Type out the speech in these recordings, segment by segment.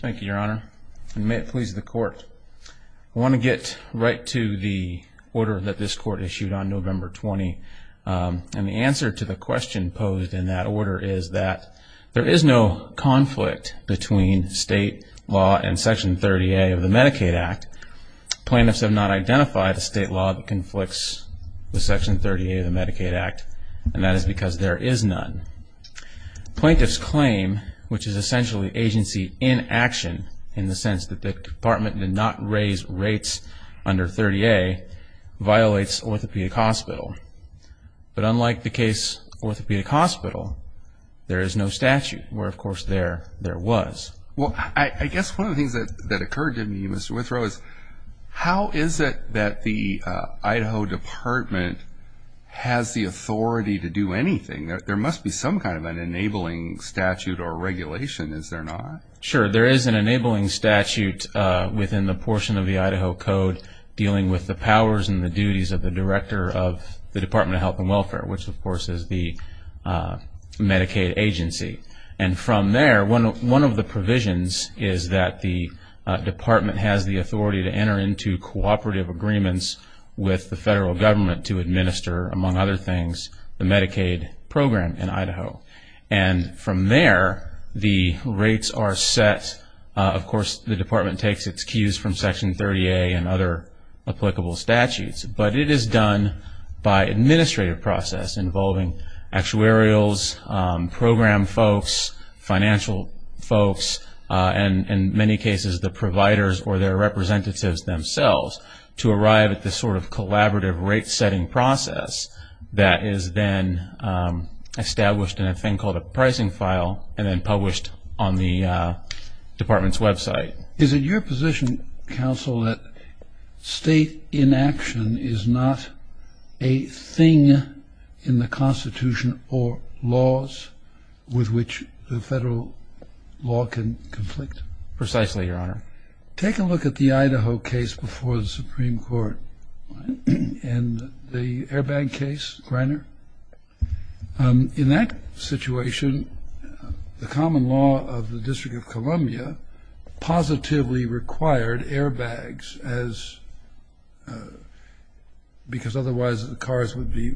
Thank you, Your Honor. And may it please the Court, I want to get right to the order that this Court issued on November 20. And the answer to the question posed in that order is that there is no conflict between state law and Section 30A of the Medicaid Act. Plaintiffs have not identified a state law that conflicts with Section 30A of the Medicaid Act, and that is because there is none. Plaintiffs claim, which is essentially agency in action, in the sense that the Department did not raise rates under 30A, violates Orthopedic Hospital. But unlike the case Orthopedic Hospital, there is no statute, where of course there was. Well, I guess one of the things that occurred to me, Mr. Withrow, is how is it that the Idaho Department has the authority to do anything? There must be some kind of an enabling statute or regulation, is there not? Sure, there is an enabling statute within the portion of the Idaho Code dealing with the powers and the duties of the Director of the Department of Health and Welfare, which of course is the Medicaid agency. And from there, one of the provisions is that the Department has the authority to enter into cooperative agreements with the federal government to administer, among other things, the Medicaid program in Idaho. And from there, the rates are set. Of course, the Department takes its cues from Section 30A and other applicable statutes. But it is done by administrative process involving actuarials, program folks, financial folks, and in many cases the providers or their representatives themselves to arrive at this sort of collaborative rate-setting process that is then established in a thing called a pricing file and then published on the Department's website. Is it your position, counsel, that state inaction is not a thing in the Constitution or laws with which the federal law can conflict? Precisely, Your Honor. Take a look at the Idaho case before the Supreme Court and the airbag case, Greiner. In that situation, the common law of the District of Columbia positively required airbags because otherwise the cars would be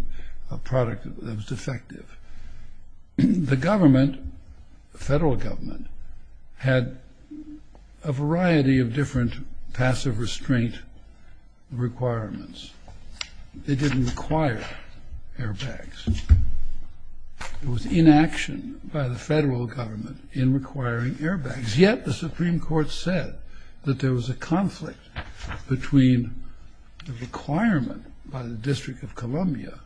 a product that was defective. The government, the federal government, had a variety of different passive restraint requirements. They didn't require airbags. There was inaction by the federal government in requiring airbags. Yet the Supreme Court said that there was a conflict between the requirement by the District of Columbia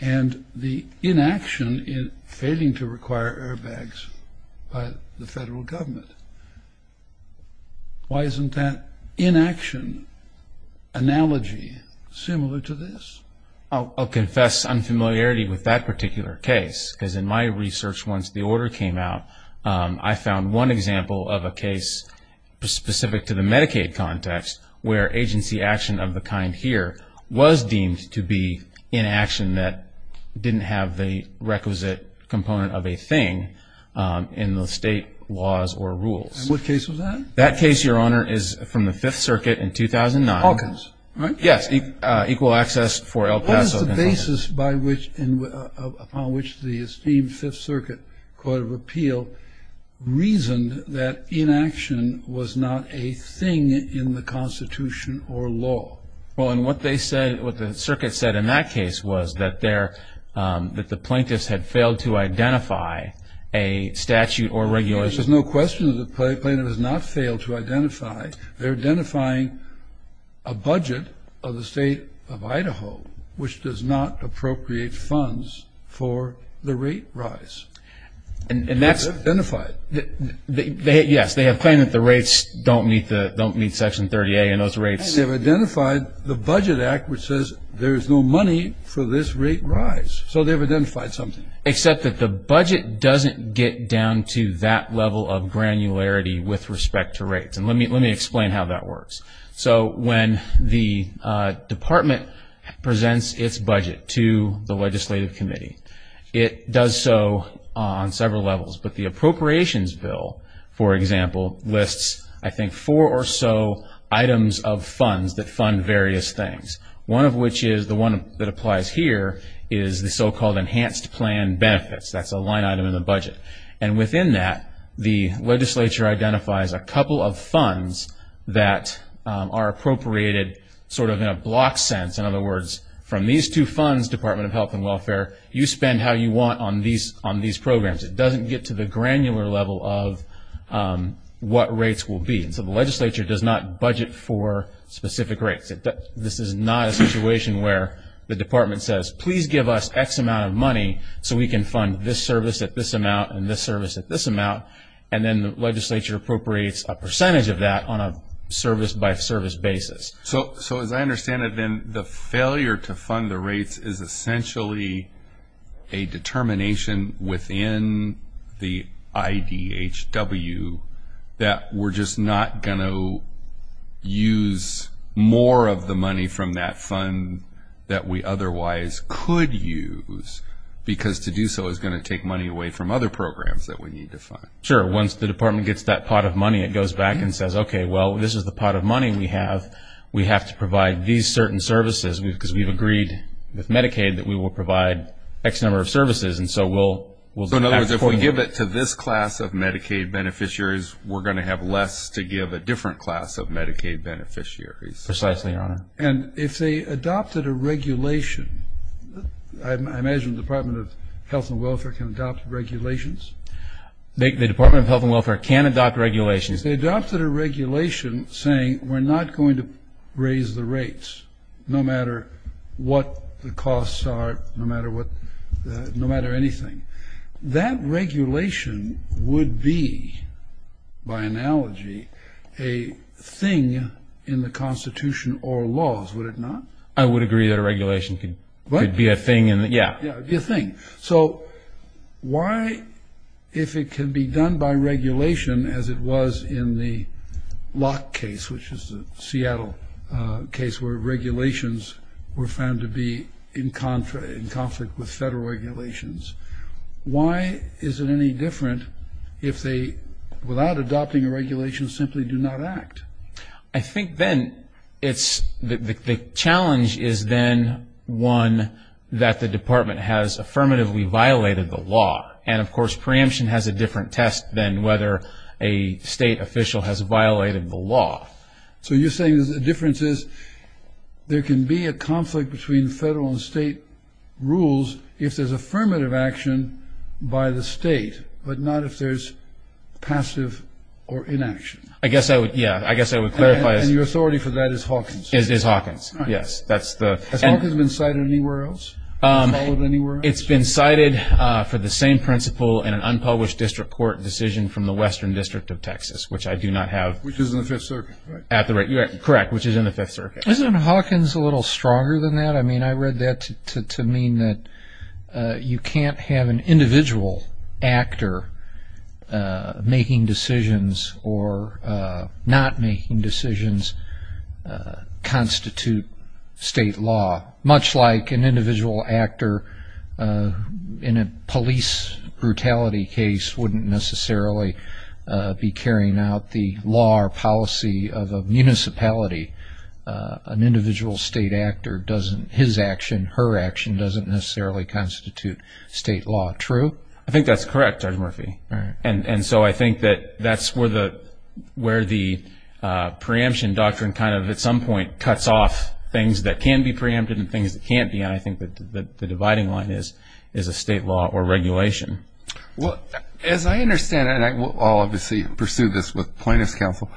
and the inaction in failing to require airbags by the federal government. Why isn't that inaction analogy similar to this? I'll confess unfamiliarity with that particular case because in my research once the order came out, I found one example of a case specific to the Medicaid context where agency action of the kind here was deemed to be inaction that didn't have the requisite component of a thing in the state laws or rules. And what case was that? That case, Your Honor, is from the Fifth Circuit in 2009. Hawkins, right? Yes, equal access for El Paso. What is the basis upon which the esteemed Fifth Circuit Court of Appeal reasoned that inaction was not a thing in the Constitution or law? Well, and what they said, what the circuit said in that case was that there, that the plaintiffs had failed to identify a statute or regulation. There's no question that the plaintiff has not failed to identify. They're identifying a budget of the state of Idaho which does not appropriate funds for the rate rise. And that's. Identify it. Yes, they have claimed that the rates don't meet Section 30A and those rates. They've identified the Budget Act which says there is no money for this rate rise. So they've identified something. Except that the budget doesn't get down to that level of granularity with respect to rates. And let me explain how that works. So when the department presents its budget to the legislative committee, it does so on several levels. But the appropriations bill, for example, lists I think four or so items of funds that fund various things. One of which is the one that applies here is the so-called enhanced plan benefits. That's a line item in the budget. And within that, the legislature identifies a couple of funds that are appropriated sort of in a block sense. In other words, from these two funds, Department of Health and Welfare, you spend how you want on these programs. It doesn't get to the granular level of what rates will be. And so the legislature does not budget for specific rates. This is not a situation where the department says, please give us X amount of money so we can fund this service at this amount and this service at this amount. And then the legislature appropriates a percentage of that on a service-by-service basis. So as I understand it, then the failure to fund the rates is essentially a determination within the IDHW that we're just not going to use more of the money from that fund that we otherwise could use, because to do so is going to take money away from other programs that we need to fund. Sure. Once the department gets that pot of money, it goes back and says, okay, well, this is the pot of money we have, we have to provide these certain services, because we've agreed with Medicaid that we will provide X number of services. So in other words, if we give it to this class of Medicaid beneficiaries, we're going to have less to give a different class of Medicaid beneficiaries. Precisely, Your Honor. And if they adopted a regulation, I imagine the Department of Health and Welfare can adopt regulations? The Department of Health and Welfare can adopt regulations. If they adopted a regulation saying we're not going to raise the rates, no matter what the costs are, no matter what the ‑‑ no matter anything, that regulation would be, by analogy, a thing in the Constitution or laws, would it not? I would agree that a regulation could be a thing in the ‑‑ yeah. Yeah, a thing. So why, if it can be done by regulation as it was in the Locke case, which is the Seattle case where regulations were found to be in conflict with federal regulations, why is it any different if they, without adopting a regulation, simply do not act? I think then it's ‑‑ the challenge is then one that the department has affirmatively violated the law. And, of course, preemption has a different test than whether a state official has violated the law. So you're saying the difference is there can be a conflict between federal and state rules if there's affirmative action by the state, but not if there's passive or inaction. I guess I would, yeah, I guess I would clarify. And your authority for that is Hawkins? Is Hawkins, yes. Has Hawkins been cited anywhere else? Followed anywhere else? It's been cited for the same principle in an unpublished district court decision from the Western District of Texas, which I do not have. Which is in the Fifth Circuit, right? Correct, which is in the Fifth Circuit. Isn't Hawkins a little stronger than that? I mean, I read that to mean that you can't have an individual actor making decisions or not making decisions constitute state law. Much like an individual actor in a police brutality case wouldn't necessarily be carrying out the law or policy of a municipality. An individual state actor, his action, her action doesn't necessarily constitute state law. True? I think that's correct, Judge Murphy. And so I think that that's where the preemption doctrine kind of at some point cuts off things that can be preempted and things that can't be. And I think that the dividing line is a state law or regulation. Well, as I understand it, and I will obviously pursue this with plaintiff's counsel,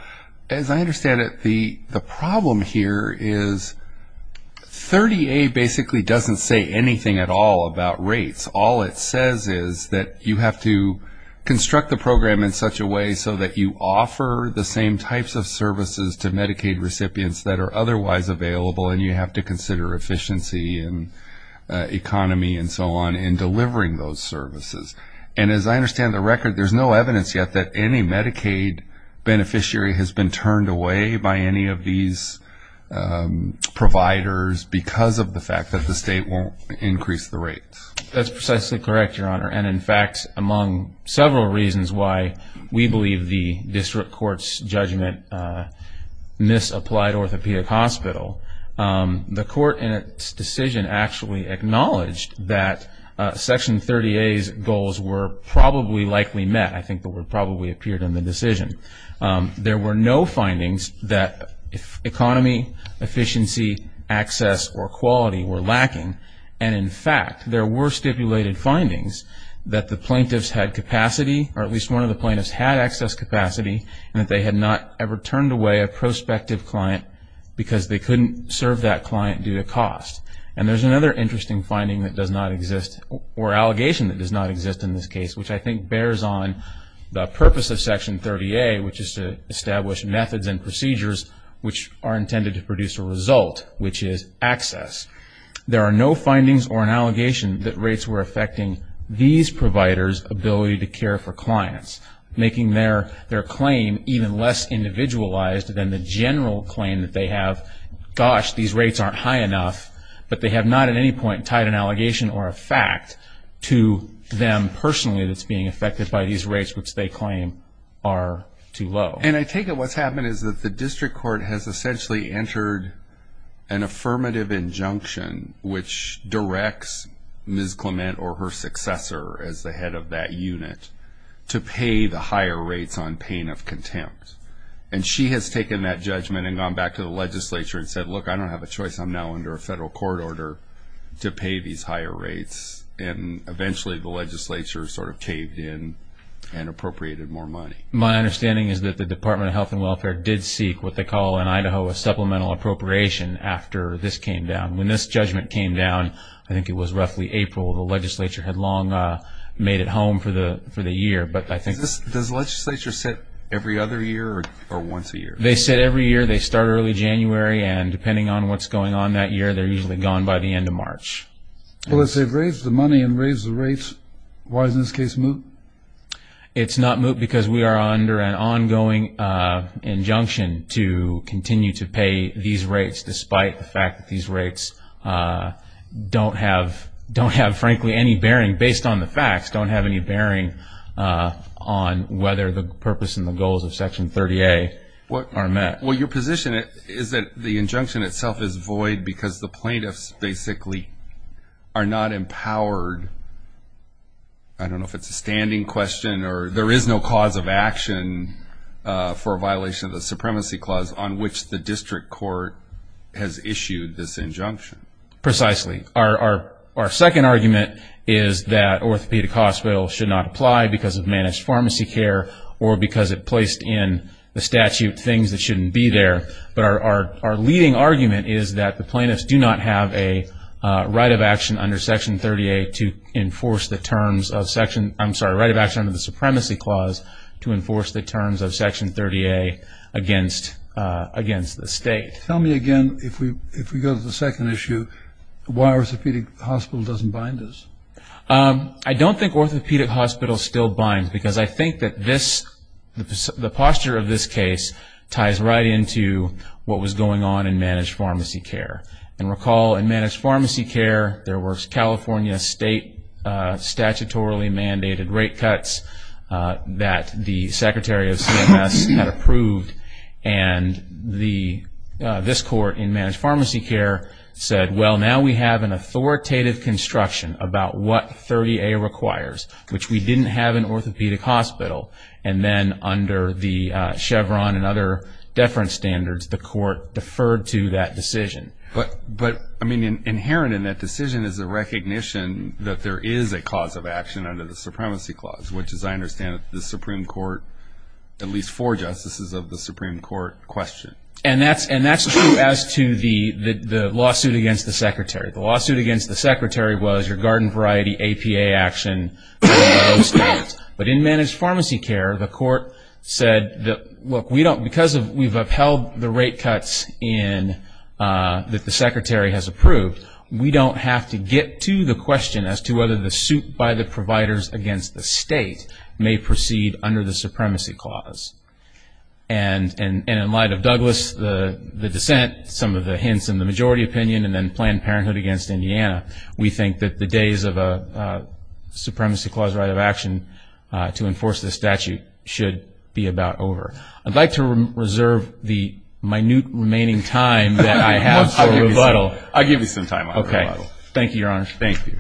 as I understand it, the problem here is 30A basically doesn't say anything at all about rates. All it says is that you have to construct the program in such a way so that you offer the same types of services to Medicaid recipients that are otherwise available, and you have to consider efficiency and economy and so on in delivering those services. And as I understand the record, there's no evidence yet that any Medicaid beneficiary has been turned away by any of these providers because of the fact that the state won't increase the rates. That's precisely correct, Your Honor. And, in fact, among several reasons why we believe the district court's judgment misapplied orthopedic hospital, the court in its decision actually acknowledged that Section 30A's goals were probably likely met, I think the word probably appeared in the decision. There were no findings that economy, efficiency, access, or quality were lacking. And, in fact, there were stipulated findings that the plaintiffs had capacity, or at least one of the plaintiffs had access capacity, and that they had not ever turned away a prospective client because they couldn't serve that client due to cost. And there's another interesting finding that does not exist, or allegation that does not exist in this case, which I think bears on the purpose of Section 30A, which is to establish methods and procedures which are intended to produce a result, which is access. There are no findings or an allegation that rates were affecting these providers' ability to care for clients, making their claim even less individualized than the general claim that they have, gosh, these rates aren't high enough, but they have not at any point tied an allegation or a fact to them personally that's being affected by these rates, which they claim are too low. And I take it what's happened is that the district court has essentially entered an affirmative injunction, which directs Ms. Clement or her successor as the head of that unit to pay the higher rates on pain of contempt. And she has taken that judgment and gone back to the legislature and said, look, I don't have a choice, I'm now under a federal court order to pay these higher rates, and eventually the legislature sort of caved in and appropriated more money. My understanding is that the Department of Health and Welfare did seek what they call in Idaho a supplemental appropriation after this came down. When this judgment came down, I think it was roughly April, the legislature had long made it home for the year. Does the legislature sit every other year or once a year? They sit every year. They start early January, and depending on what's going on that year, they're usually gone by the end of March. Well, let's say they've raised the money and raised the rates. Why is this case moot? It's not moot because we are under an ongoing injunction to continue to pay these rates, despite the fact that these rates don't have, frankly, any bearing, based on the facts, don't have any bearing on whether the purpose and the goals of Section 30A are met. Well, your position is that the injunction itself is void because the plaintiffs basically are not empowered. I don't know if it's a standing question or there is no cause of action for a violation of the supremacy clause on which the district court has issued this injunction. Precisely. Our second argument is that orthopedic hospital should not apply because of managed pharmacy care or because it placed in the statute things that shouldn't be there. But our leading argument is that the plaintiffs do not have a right of action under Section 30A to enforce the terms of Section – I'm sorry, right of action under the supremacy clause to enforce the terms of Section 30A against the state. Tell me again, if we go to the second issue, why orthopedic hospital doesn't bind us. I don't think orthopedic hospital still binds because I think that this – ties right into what was going on in managed pharmacy care. And recall in managed pharmacy care, there were California state statutorily mandated rate cuts that the Secretary of CMS had approved and this court in managed pharmacy care said, well, now we have an authoritative construction about what 30A requires, which we didn't have in orthopedic hospital. And then under the Chevron and other deference standards, the court deferred to that decision. But, I mean, inherent in that decision is a recognition that there is a cause of action under the supremacy clause, which is, I understand, the Supreme Court – at least four justices of the Supreme Court question. And that's true as to the lawsuit against the Secretary. The lawsuit against the Secretary was regarding variety APA action standards. But in managed pharmacy care, the court said, look, we don't – because we've upheld the rate cuts in – that the Secretary has approved, we don't have to get to the question as to whether the suit by the providers against the state may proceed under the supremacy clause. And in light of Douglas, the dissent, some of the hints in the majority opinion, and then Planned Parenthood against Indiana, we think that the days of a supremacy clause right of action to enforce this statute should be about over. I'd like to reserve the minute remaining time that I have to rebuttal. I'll give you some time. Okay. Thank you, Your Honor. Thank you.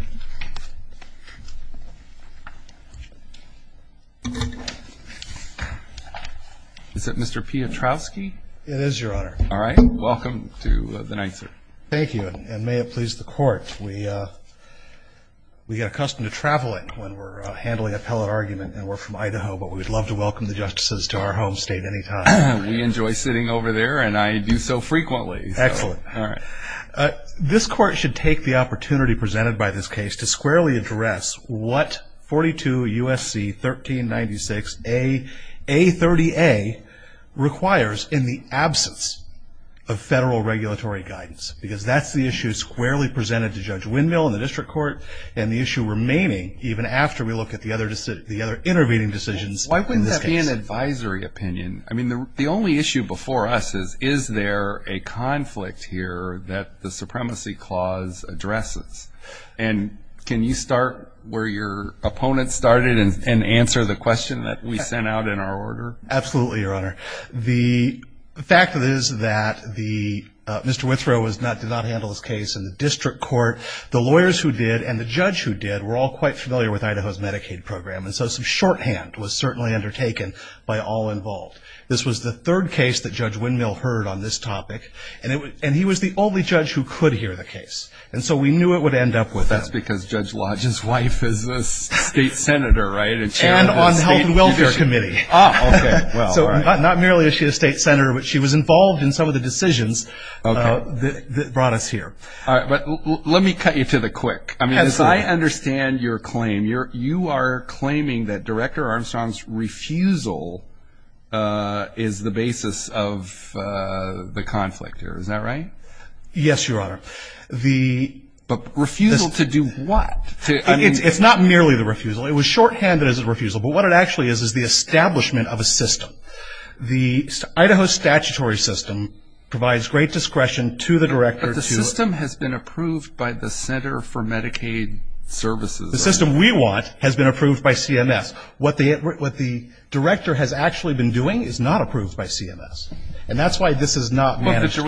Is that Mr. Piotrowski? It is, Your Honor. All right. Welcome to the night, sir. Thank you. And may it please the court, we get accustomed to traveling when we're handling appellate argument, and we're from Idaho, but we'd love to welcome the justices to our home state any time. We enjoy sitting over there, and I do so frequently. Excellent. All right. This court should take the opportunity presented by this case to squarely address what 42 U.S.C. 1396A30A requires in the absence of federal regulatory guidance, because that's the issue squarely presented to Judge Windmill in the district court, and the issue remaining even after we look at the other intervening decisions in this case. Why wouldn't that be an advisory opinion? I mean, the only issue before us is, is there a conflict here that the supremacy clause addresses? And can you start where your opponent started and answer the question that we sent out in our order? Absolutely, Your Honor. The fact is that Mr. Withrow did not handle his case in the district court. The lawyers who did and the judge who did were all quite familiar with Idaho's Medicaid program, and so some shorthand was certainly undertaken by all involved. This was the third case that Judge Windmill heard on this topic, and he was the only judge who could hear the case. And so we knew it would end up with him. Well, that's because Judge Lodge's wife is a state senator, right? And on the health and welfare committee. Oh, okay, well. So not merely is she a state senator, but she was involved in some of the decisions that brought us here. All right, but let me cut you to the quick. Absolutely. I mean, as I understand your claim, you are claiming that Director Armstrong's refusal is the basis of the conflict here. Is that right? Yes, Your Honor. But refusal to do what? It's not merely the refusal. It was shorthanded as a refusal, but what it actually is is the establishment of a system. The Idaho statutory system provides great discretion to the director. But the system has been approved by the Center for Medicaid Services. The system we want has been approved by CMS. What the director has actually been doing is not approved by CMS, and that's why this is not managed care.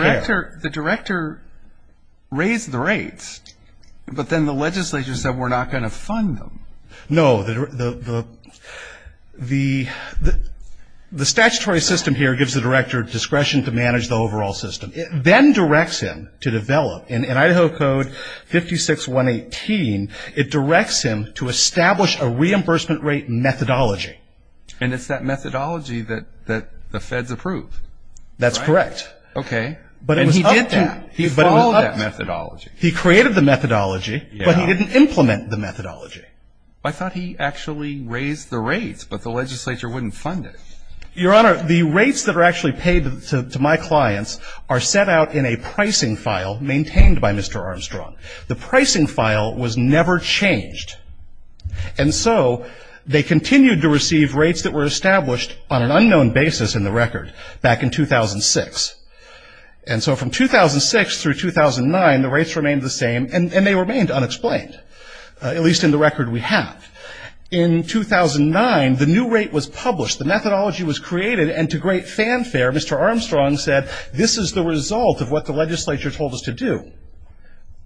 But the director raised the rates, but then the legislature said we're not going to fund them. No, the statutory system here gives the director discretion to manage the overall system. It then directs him to develop, in Idaho Code 56-118, it directs him to establish a reimbursement rate methodology. And it's that methodology that the feds approved. That's correct. Okay. And he did that. He followed that methodology. He created the methodology, but he didn't implement the methodology. I thought he actually raised the rates, but the legislature wouldn't fund it. Your Honor, the rates that are actually paid to my clients are set out in a pricing file maintained by Mr. Armstrong. The pricing file was never changed. And so they continued to receive rates that were established on an unknown basis in the record back in 2006. And so from 2006 through 2009, the rates remained the same, and they remained unexplained, at least in the record we have. In 2009, the new rate was published, the methodology was created, and to great fanfare, Mr. Armstrong said this is the result of what the legislature told us to do.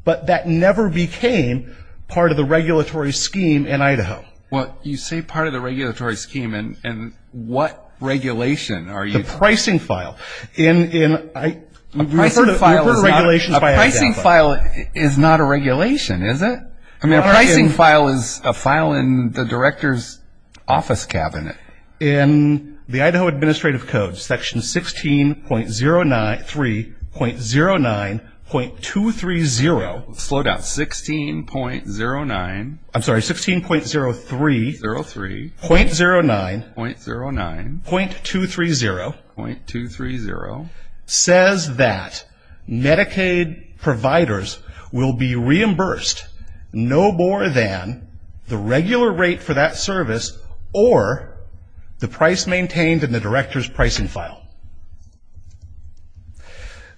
But that never became part of the regulatory scheme in Idaho. Well, you say part of the regulatory scheme, and what regulation are you talking about? A pricing file. A pricing file is not a regulation, is it? I mean, a pricing file is a file in the director's office cabinet. In the Idaho Administrative Code, Section 16.03.09.230. Slow down. 16.09. I'm sorry, 16.03. 03. .09. .09. .230. .230. Says that Medicaid providers will be reimbursed no more than the regular rate for that service, or the price maintained in the director's pricing file.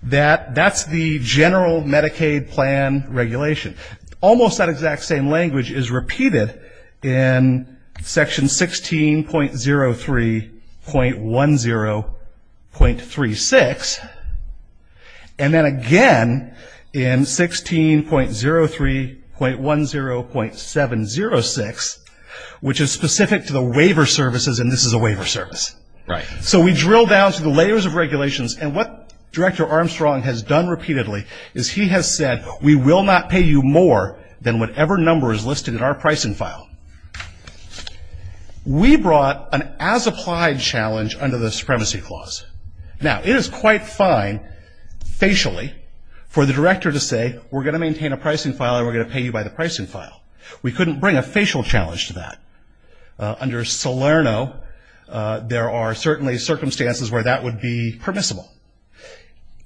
That's the general Medicaid plan regulation. Almost that exact same language is repeated in Section 16.03.10.36, and then again in 16.03.10.706, which is specific to the waiver services, and this is a waiver service. Right. So we drill down through the layers of regulations, and what Director Armstrong has done repeatedly is he has said, we will not pay you more than whatever number is listed in our pricing file. We brought an as-applied challenge under the Supremacy Clause. Now, it is quite fine, facially, for the director to say, we're going to maintain a pricing file and we're going to pay you by the pricing file. We couldn't bring a facial challenge to that. Under Salerno, there are certainly circumstances where that would be permissible.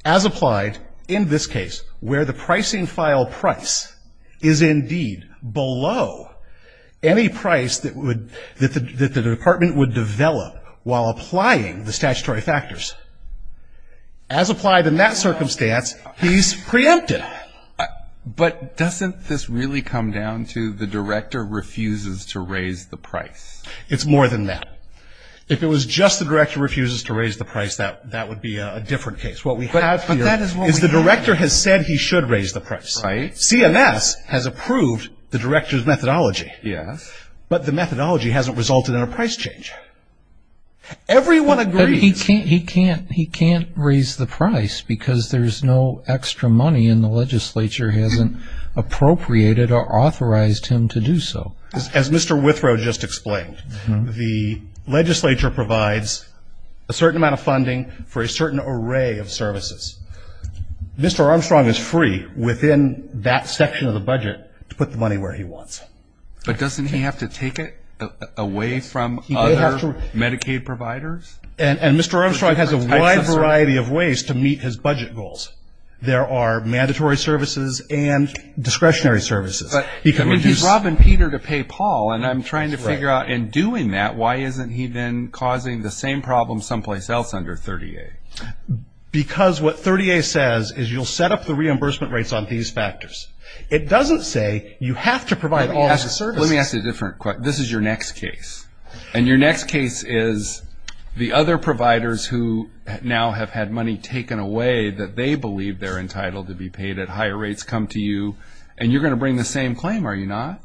As applied, in this case, where the pricing file price is indeed below any price that the department would develop while applying the statutory factors. As applied in that circumstance, he's preempted. But doesn't this really come down to the director refuses to raise the price? It's more than that. If it was just the director refuses to raise the price, that would be a different case. What we have here is the director has said he should raise the price. Right. CMS has approved the director's methodology. Yes. But the methodology hasn't resulted in a price change. Everyone agrees. He can't raise the price because there's no extra money and the legislature hasn't appropriated or authorized him to do so. As Mr. Withrow just explained, the legislature provides a certain amount of funding for a certain array of services. Mr. Armstrong is free within that section of the budget to put the money where he wants. But doesn't he have to take it away from other Medicaid providers? And Mr. Armstrong has a wide variety of ways to meet his budget goals. There are mandatory services and discretionary services. But if he's robbing Peter to pay Paul, and I'm trying to figure out in doing that, why isn't he then causing the same problem someplace else under 30A? Because what 30A says is you'll set up the reimbursement rates on these factors. It doesn't say you have to provide all of the services. Let me ask you a different question. This is your next case, and your next case is the other providers who now have had money taken away that they believe they're entitled to be paid at higher rates come to you, and you're going to bring the same claim, are you not?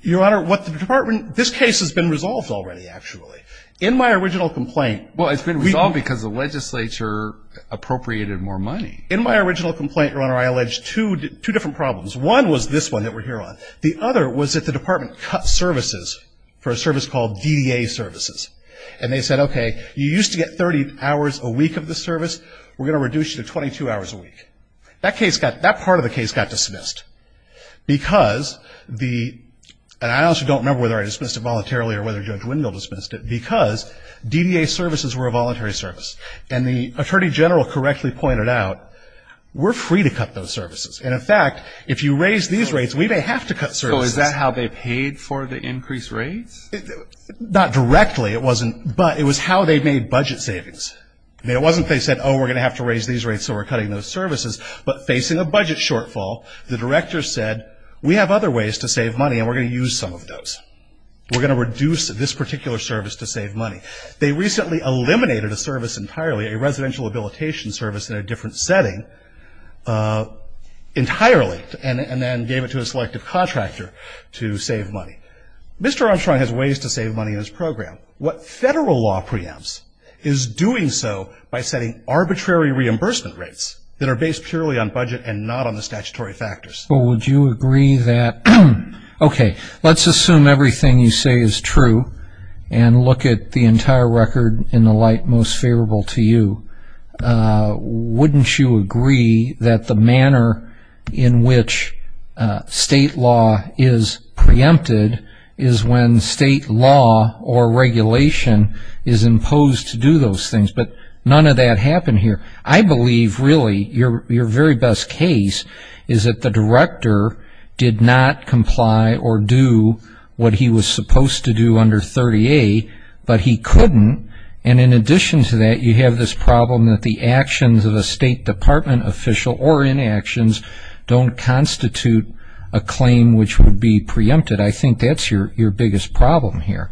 Your Honor, what the department ‑‑ this case has been resolved already, actually. In my original complaint ‑‑ Well, it's been resolved because the legislature appropriated more money. In my original complaint, Your Honor, I alleged two different problems. One was this one that we're here on. The other was that the department cut services for a service called DDA services. And they said, okay, you used to get 30 hours a week of the service. We're going to reduce you to 22 hours a week. That case got ‑‑ that part of the case got dismissed. Because the ‑‑ and I also don't remember whether I dismissed it voluntarily or whether Judge Wendell dismissed it, because DDA services were a voluntary service. And the attorney general correctly pointed out, we're free to cut those services. And, in fact, if you raise these rates, we may have to cut services. So is that how they paid for the increased rates? Not directly. It wasn't. But it was how they made budget savings. I mean, it wasn't they said, oh, we're going to have to raise these rates, so we're cutting those services. But facing a budget shortfall, the director said, we have other ways to save money, and we're going to use some of those. We're going to reduce this particular service to save money. They recently eliminated a service entirely, a residential habilitation service in a different setting entirely, and then gave it to a selective contractor to save money. Mr. Armstrong has ways to save money in his program. What federal law preempts is doing so by setting arbitrary reimbursement rates that are based purely on budget and not on the statutory factors. Well, would you agree that, okay, let's assume everything you say is true and look at the entire record in the light most favorable to you. Wouldn't you agree that the manner in which state law is preempted is when state law or regulation is imposed to do those things? But none of that happened here. I believe, really, your very best case is that the director did not comply or do what he was supposed to do under 30A, but he couldn't. And in addition to that, you have this problem that the actions of a state department official or inactions don't constitute a claim which would be preempted. I think that's your biggest problem here.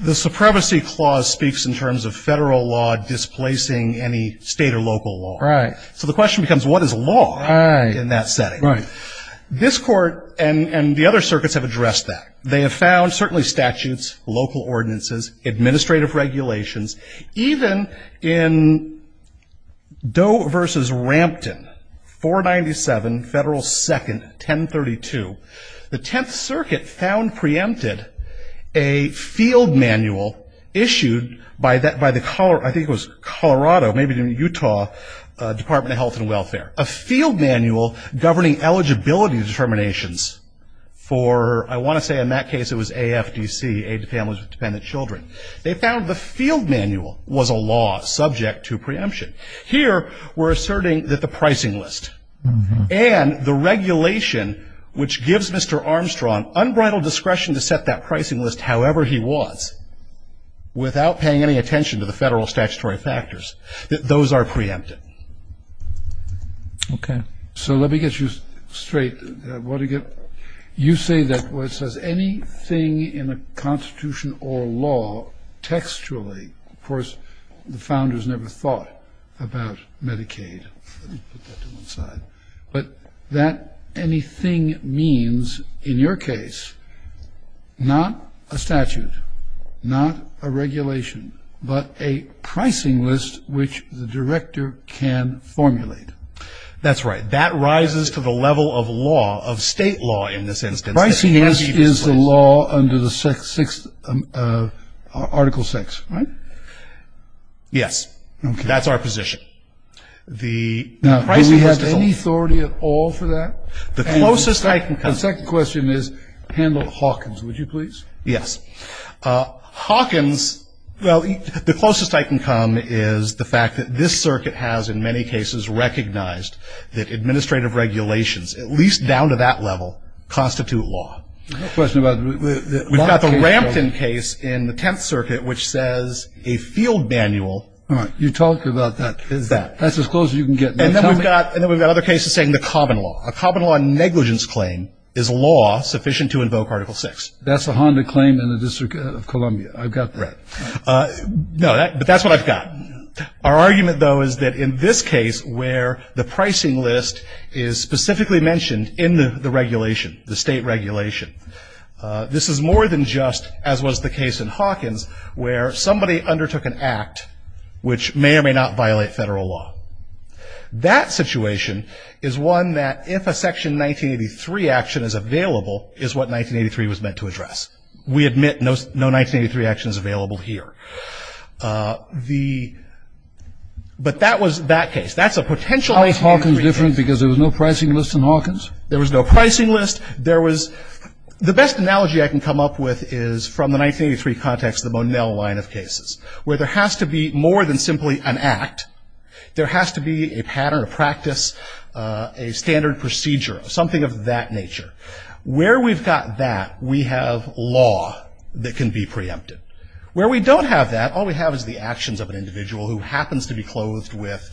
The Supremacy Clause speaks in terms of federal law displacing any state or local law. Right. So the question becomes, what is law in that setting? Right. This Court and the other circuits have addressed that. They have found certainly statutes, local ordinances, administrative regulations. Even in Doe v. Rampton, 497 Federal 2nd, 1032, the Tenth Circuit found preempted a field manual issued by the, I think it was Colorado, maybe Utah Department of Health and Welfare, a field manual governing eligibility determinations for, I want to say in that case it was AFDC, Aid to Families with Dependent Children. They found the field manual was a law subject to preemption. Here we're asserting that the pricing list and the regulation which gives Mr. Armstrong unbridled discretion to set that pricing list however he wants without paying any attention to the federal statutory factors, that those are preempted. Okay. So let me get you straight. You say that what says anything in a constitution or law textually, of course the founders never thought about Medicaid, let me put that to one side, but that anything means, in your case, not a statute, not a regulation, but a pricing list which the director can formulate. That's right. That rises to the level of law, of state law in this instance. Pricing is the law under Article VI, right? Yes. Okay. That's our position. Now, do we have any authority at all for that? The closest I can come to that. The second question is, handle Hawkins, would you please? Yes. Hawkins, well, the closest I can come is the fact that this circuit has in many cases recognized that administrative regulations, at least down to that level, constitute law. No question about it. We've got the Rampton case in the Tenth Circuit which says a field manual. All right. You talked about that. That. That's as close as you can get. And then we've got other cases saying the common law. A common law negligence claim is law sufficient to invoke Article VI. That's the Honda claim in the District of Columbia. I've got that. Right. No, but that's what I've got. Our argument, though, is that in this case where the pricing list is specifically mentioned in the regulation, the state regulation, this is more than just, as was the case in Hawkins, where somebody undertook an act which may or may not violate federal law. That situation is one that if a Section 1983 action is available, is what 1983 was meant to address. We admit no 1983 action is available here. The, but that was that case. That's a potential case. How is Hawkins different because there was no pricing list in Hawkins? There was no pricing list. There was, the best analogy I can come up with is from the 1983 context, the Monell line of cases, where there has to be more than simply an act. There has to be a pattern of practice, a standard procedure, something of that nature. Where we've got that, we have law that can be preempted. Where we don't have that, all we have is the actions of an individual who happens to be clothed with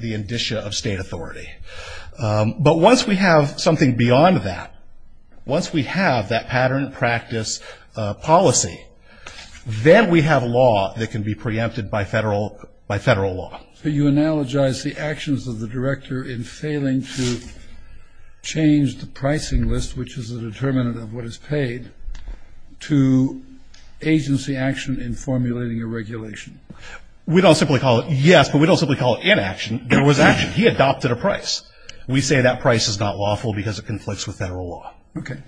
the indicia of state authority. But once we have something beyond that, once we have that pattern of practice policy, then we have law that can be preempted by federal law. So you analogize the actions of the director in failing to change the pricing list, which is a determinant of what is paid, to agency action in formulating a regulation. We don't simply call it, yes, but we don't simply call it inaction. There was action. He adopted a price. We say that price is not lawful because it conflicts with federal law. Okay.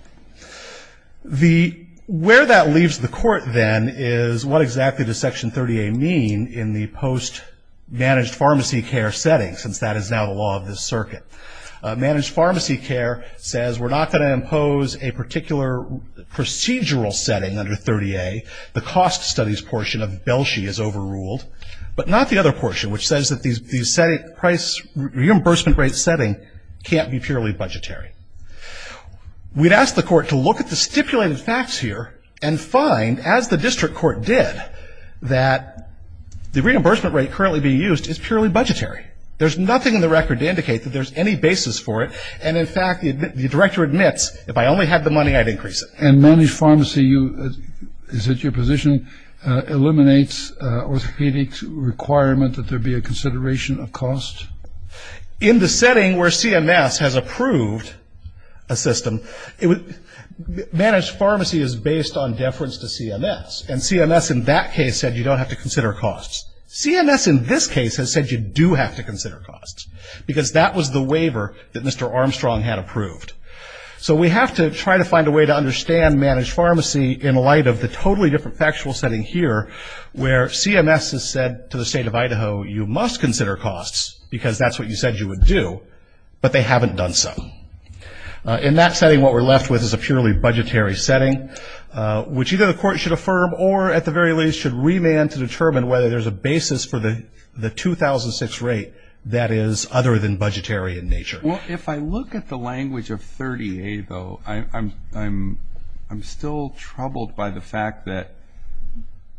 The, where that leaves the court then is what exactly does Section 30A mean in the post-managed pharmacy care setting, since that is now the law of this circuit? Managed pharmacy care says we're not going to impose a particular procedural setting under 30A. The cost studies portion of Belshi is overruled, but not the other portion, which says that the price reimbursement rate setting can't be purely budgetary. We'd ask the court to look at the stipulated facts here and find, as the district court did, that the reimbursement rate currently being used is purely budgetary. There's nothing in the record to indicate that there's any basis for it, and, in fact, the director admits, if I only had the money, I'd increase it. And managed pharmacy, is it your position, eliminates orthopedic requirement that there be a consideration of cost? In the setting where CMS has approved a system, managed pharmacy is based on deference to CMS, and CMS in that case said you don't have to consider costs. CMS in this case has said you do have to consider costs, because that was the waiver that Mr. Armstrong had approved. So we have to try to find a way to understand managed pharmacy in light of the totally different factual setting here, where CMS has said to the state of Idaho, you must consider costs, because that's what you said you would do, but they haven't done so. In that setting, what we're left with is a purely budgetary setting, which either the court should affirm or, at the very least, should remand to determine whether there's a basis for the 2006 rate that is other than budgetary in nature. Well, if I look at the language of 30A, though, I'm still troubled by the fact that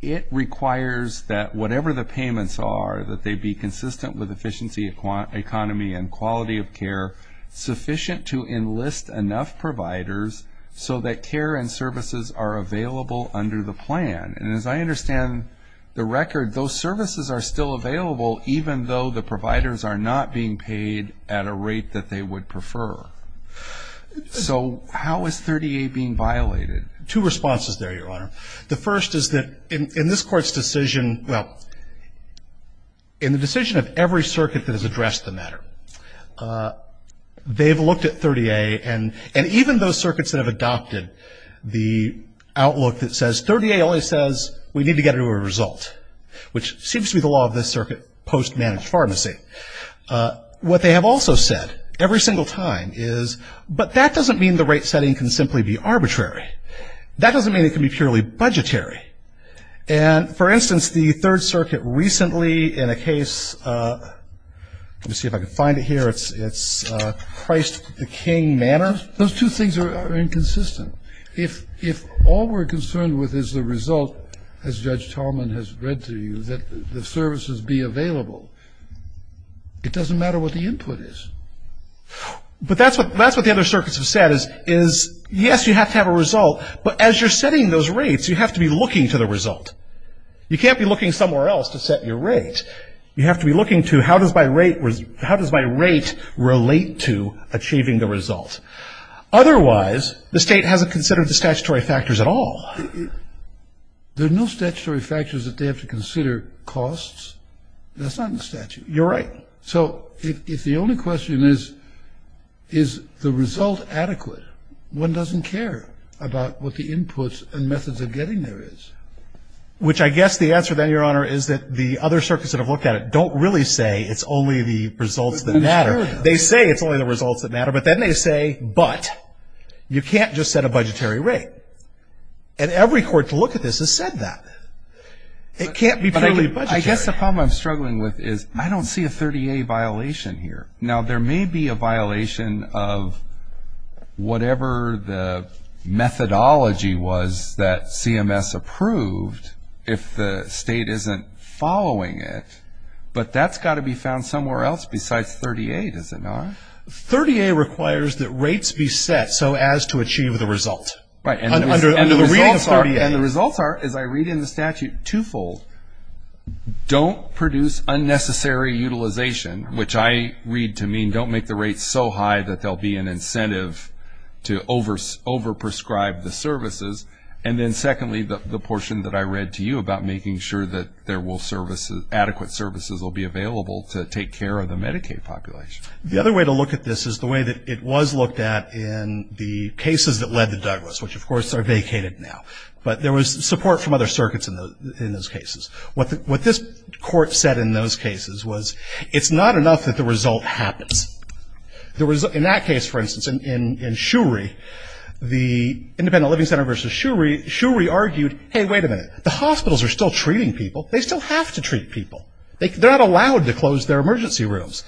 it requires that whatever the payments are, that they be consistent with efficiency, economy, and quality of care, sufficient to enlist enough providers so that care and services are available under the plan. And as I understand the record, those services are still available, even though the providers are not being paid at a rate that they would prefer. So how is 30A being violated? Two responses there, Your Honor. The first is that in this Court's decision, well, in the decision of every circuit that has addressed the matter, they've looked at 30A, and even those circuits that have adopted the outlook that says 30A only says we need to get a result, which seems to be the law of this circuit post-managed pharmacy. What they have also said every single time is, but that doesn't mean the rate setting can simply be arbitrary. That doesn't mean it can be purely budgetary. And, for instance, the Third Circuit recently in a case, let me see if I can find it here, it's Christ the King Manor. Those two things are inconsistent. If all we're concerned with is the result, as Judge Tallman has read to you, that the services be available, it doesn't matter what the input is. But that's what the other circuits have said is, yes, you have to have a result, but as you're setting those rates, you have to be looking to the result. You can't be looking somewhere else to set your rate. You have to be looking to how does my rate relate to achieving the result. Otherwise, the state hasn't considered the statutory factors at all. There are no statutory factors that they have to consider costs. That's not in the statute. You're right. So if the only question is, is the result adequate, one doesn't care about what the inputs and methods of getting there is. Which I guess the answer then, Your Honor, is that the other circuits that have looked at it don't really say it's only the results that matter. They say it's only the results that matter. But then they say, but you can't just set a budgetary rate. And every court to look at this has said that. It can't be purely budgetary. I guess the problem I'm struggling with is I don't see a 30A violation here. Now, there may be a violation of whatever the methodology was that CMS approved if the state isn't following it. But that's got to be found somewhere else besides 30A, does it not? 30A requires that rates be set so as to achieve the result. Right. And the results are, as I read in the statute, twofold. Don't produce unnecessary utilization, which I read to mean don't make the rates so high that there will be an incentive to over-prescribe the services. And then secondly, the portion that I read to you about making sure that there will services, adequate services will be available to take care of the Medicaid population. The other way to look at this is the way that it was looked at in the cases that led to Douglas, which, of course, are vacated now. But there was support from other circuits in those cases. What this court said in those cases was it's not enough that the result happens. In that case, for instance, in Shuri, the independent living center versus Shuri, Shuri argued, hey, wait a minute. The hospitals are still treating people. They still have to treat people. They're not allowed to close their emergency rooms.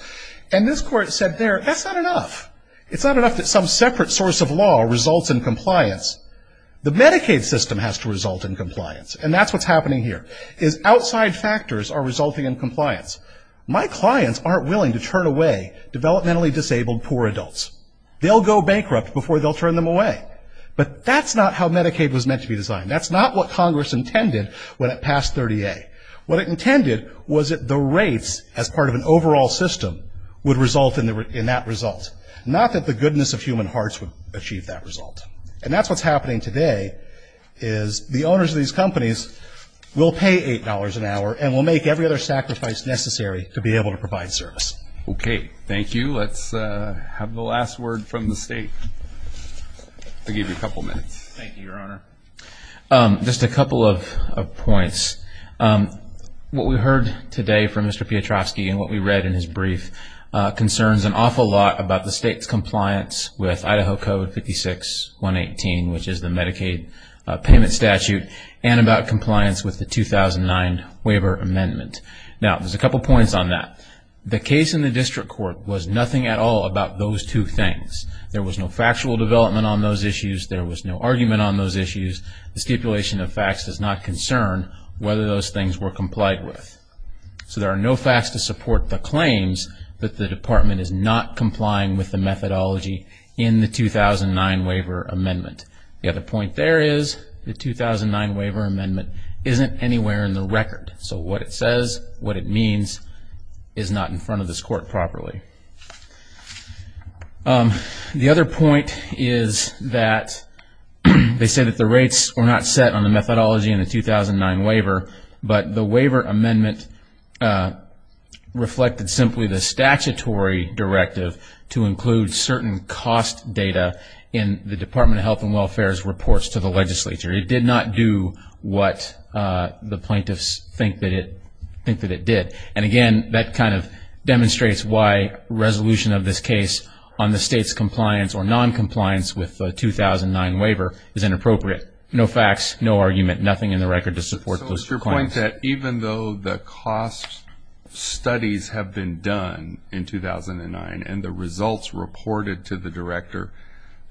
And this court said there, that's not enough. It's not enough that some separate source of law results in compliance. The Medicaid system has to result in compliance, and that's what's happening here, is outside factors are resulting in compliance. My clients aren't willing to turn away developmentally disabled poor adults. They'll go bankrupt before they'll turn them away. But that's not how Medicaid was meant to be designed. That's not what Congress intended when it passed 30A. What it intended was that the rates as part of an overall system would result in that result, not that the goodness of human hearts would achieve that result. And that's what's happening today, is the owners of these companies will pay $8 an hour and will make every other sacrifice necessary to be able to provide service. Okay. Thank you. Let's have the last word from the State. I'll give you a couple minutes. Thank you, Your Honor. Just a couple of points. What we heard today from Mr. Piotrowski and what we read in his brief concerns an awful lot about the State's compliance with Idaho Code 56-118, which is the Medicaid payment statute, and about compliance with the 2009 waiver amendment. Now, there's a couple points on that. The case in the district court was nothing at all about those two things. There was no factual development on those issues. There was no argument on those issues. The stipulation of facts does not concern whether those things were complied with. So there are no facts to support the claims that the Department is not complying with the methodology in the 2009 waiver amendment. The other point there is the 2009 waiver amendment isn't anywhere in the record. So what it says, what it means, is not in front of this Court properly. Thank you. The other point is that they say that the rates were not set on the methodology in the 2009 waiver, but the waiver amendment reflected simply the statutory directive to include certain cost data in the Department of Health and Welfare's reports to the legislature. It did not do what the plaintiffs think that it did. And, again, that kind of demonstrates why resolution of this case on the State's compliance or noncompliance with the 2009 waiver is inappropriate. No facts, no argument, nothing in the record to support those claims. So it's your point that even though the cost studies have been done in 2009 and the results reported to the Director,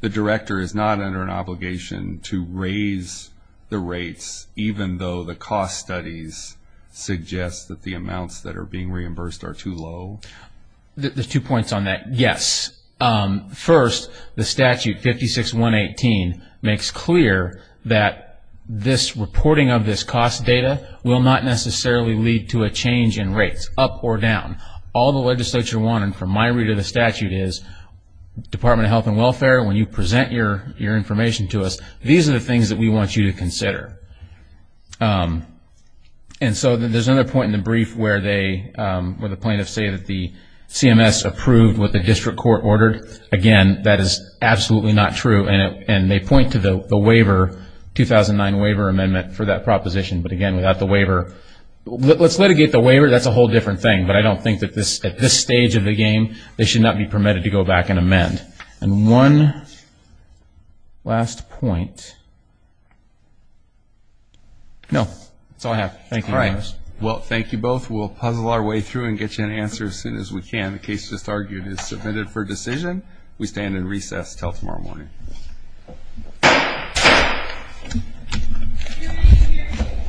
the Director is not under an obligation to raise the rates, even though the cost studies suggest that the amounts that are being reimbursed are too low? The two points on that, yes. First, the statute 56-118 makes clear that this reporting of this cost data will not necessarily lead to a change in rates, up or down. All the legislature wanted from my read of the statute is, Department of Health and Welfare, when you present your information to us, these are the things that we want you to consider. And so there's another point in the brief where the plaintiffs say that the CMS approved what the district court ordered. Again, that is absolutely not true, and they point to the waiver, 2009 waiver amendment for that proposition, but, again, without the waiver. Let's litigate the waiver. That's a whole different thing, but I don't think that at this stage of the game they should not be permitted to go back and amend. And one last point. No. That's all I have. Thank you. All right. Well, thank you both. We'll puzzle our way through and get you an answer as soon as we can. The case just argued is submitted for decision. We stand in recess until tomorrow morning. Thank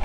you.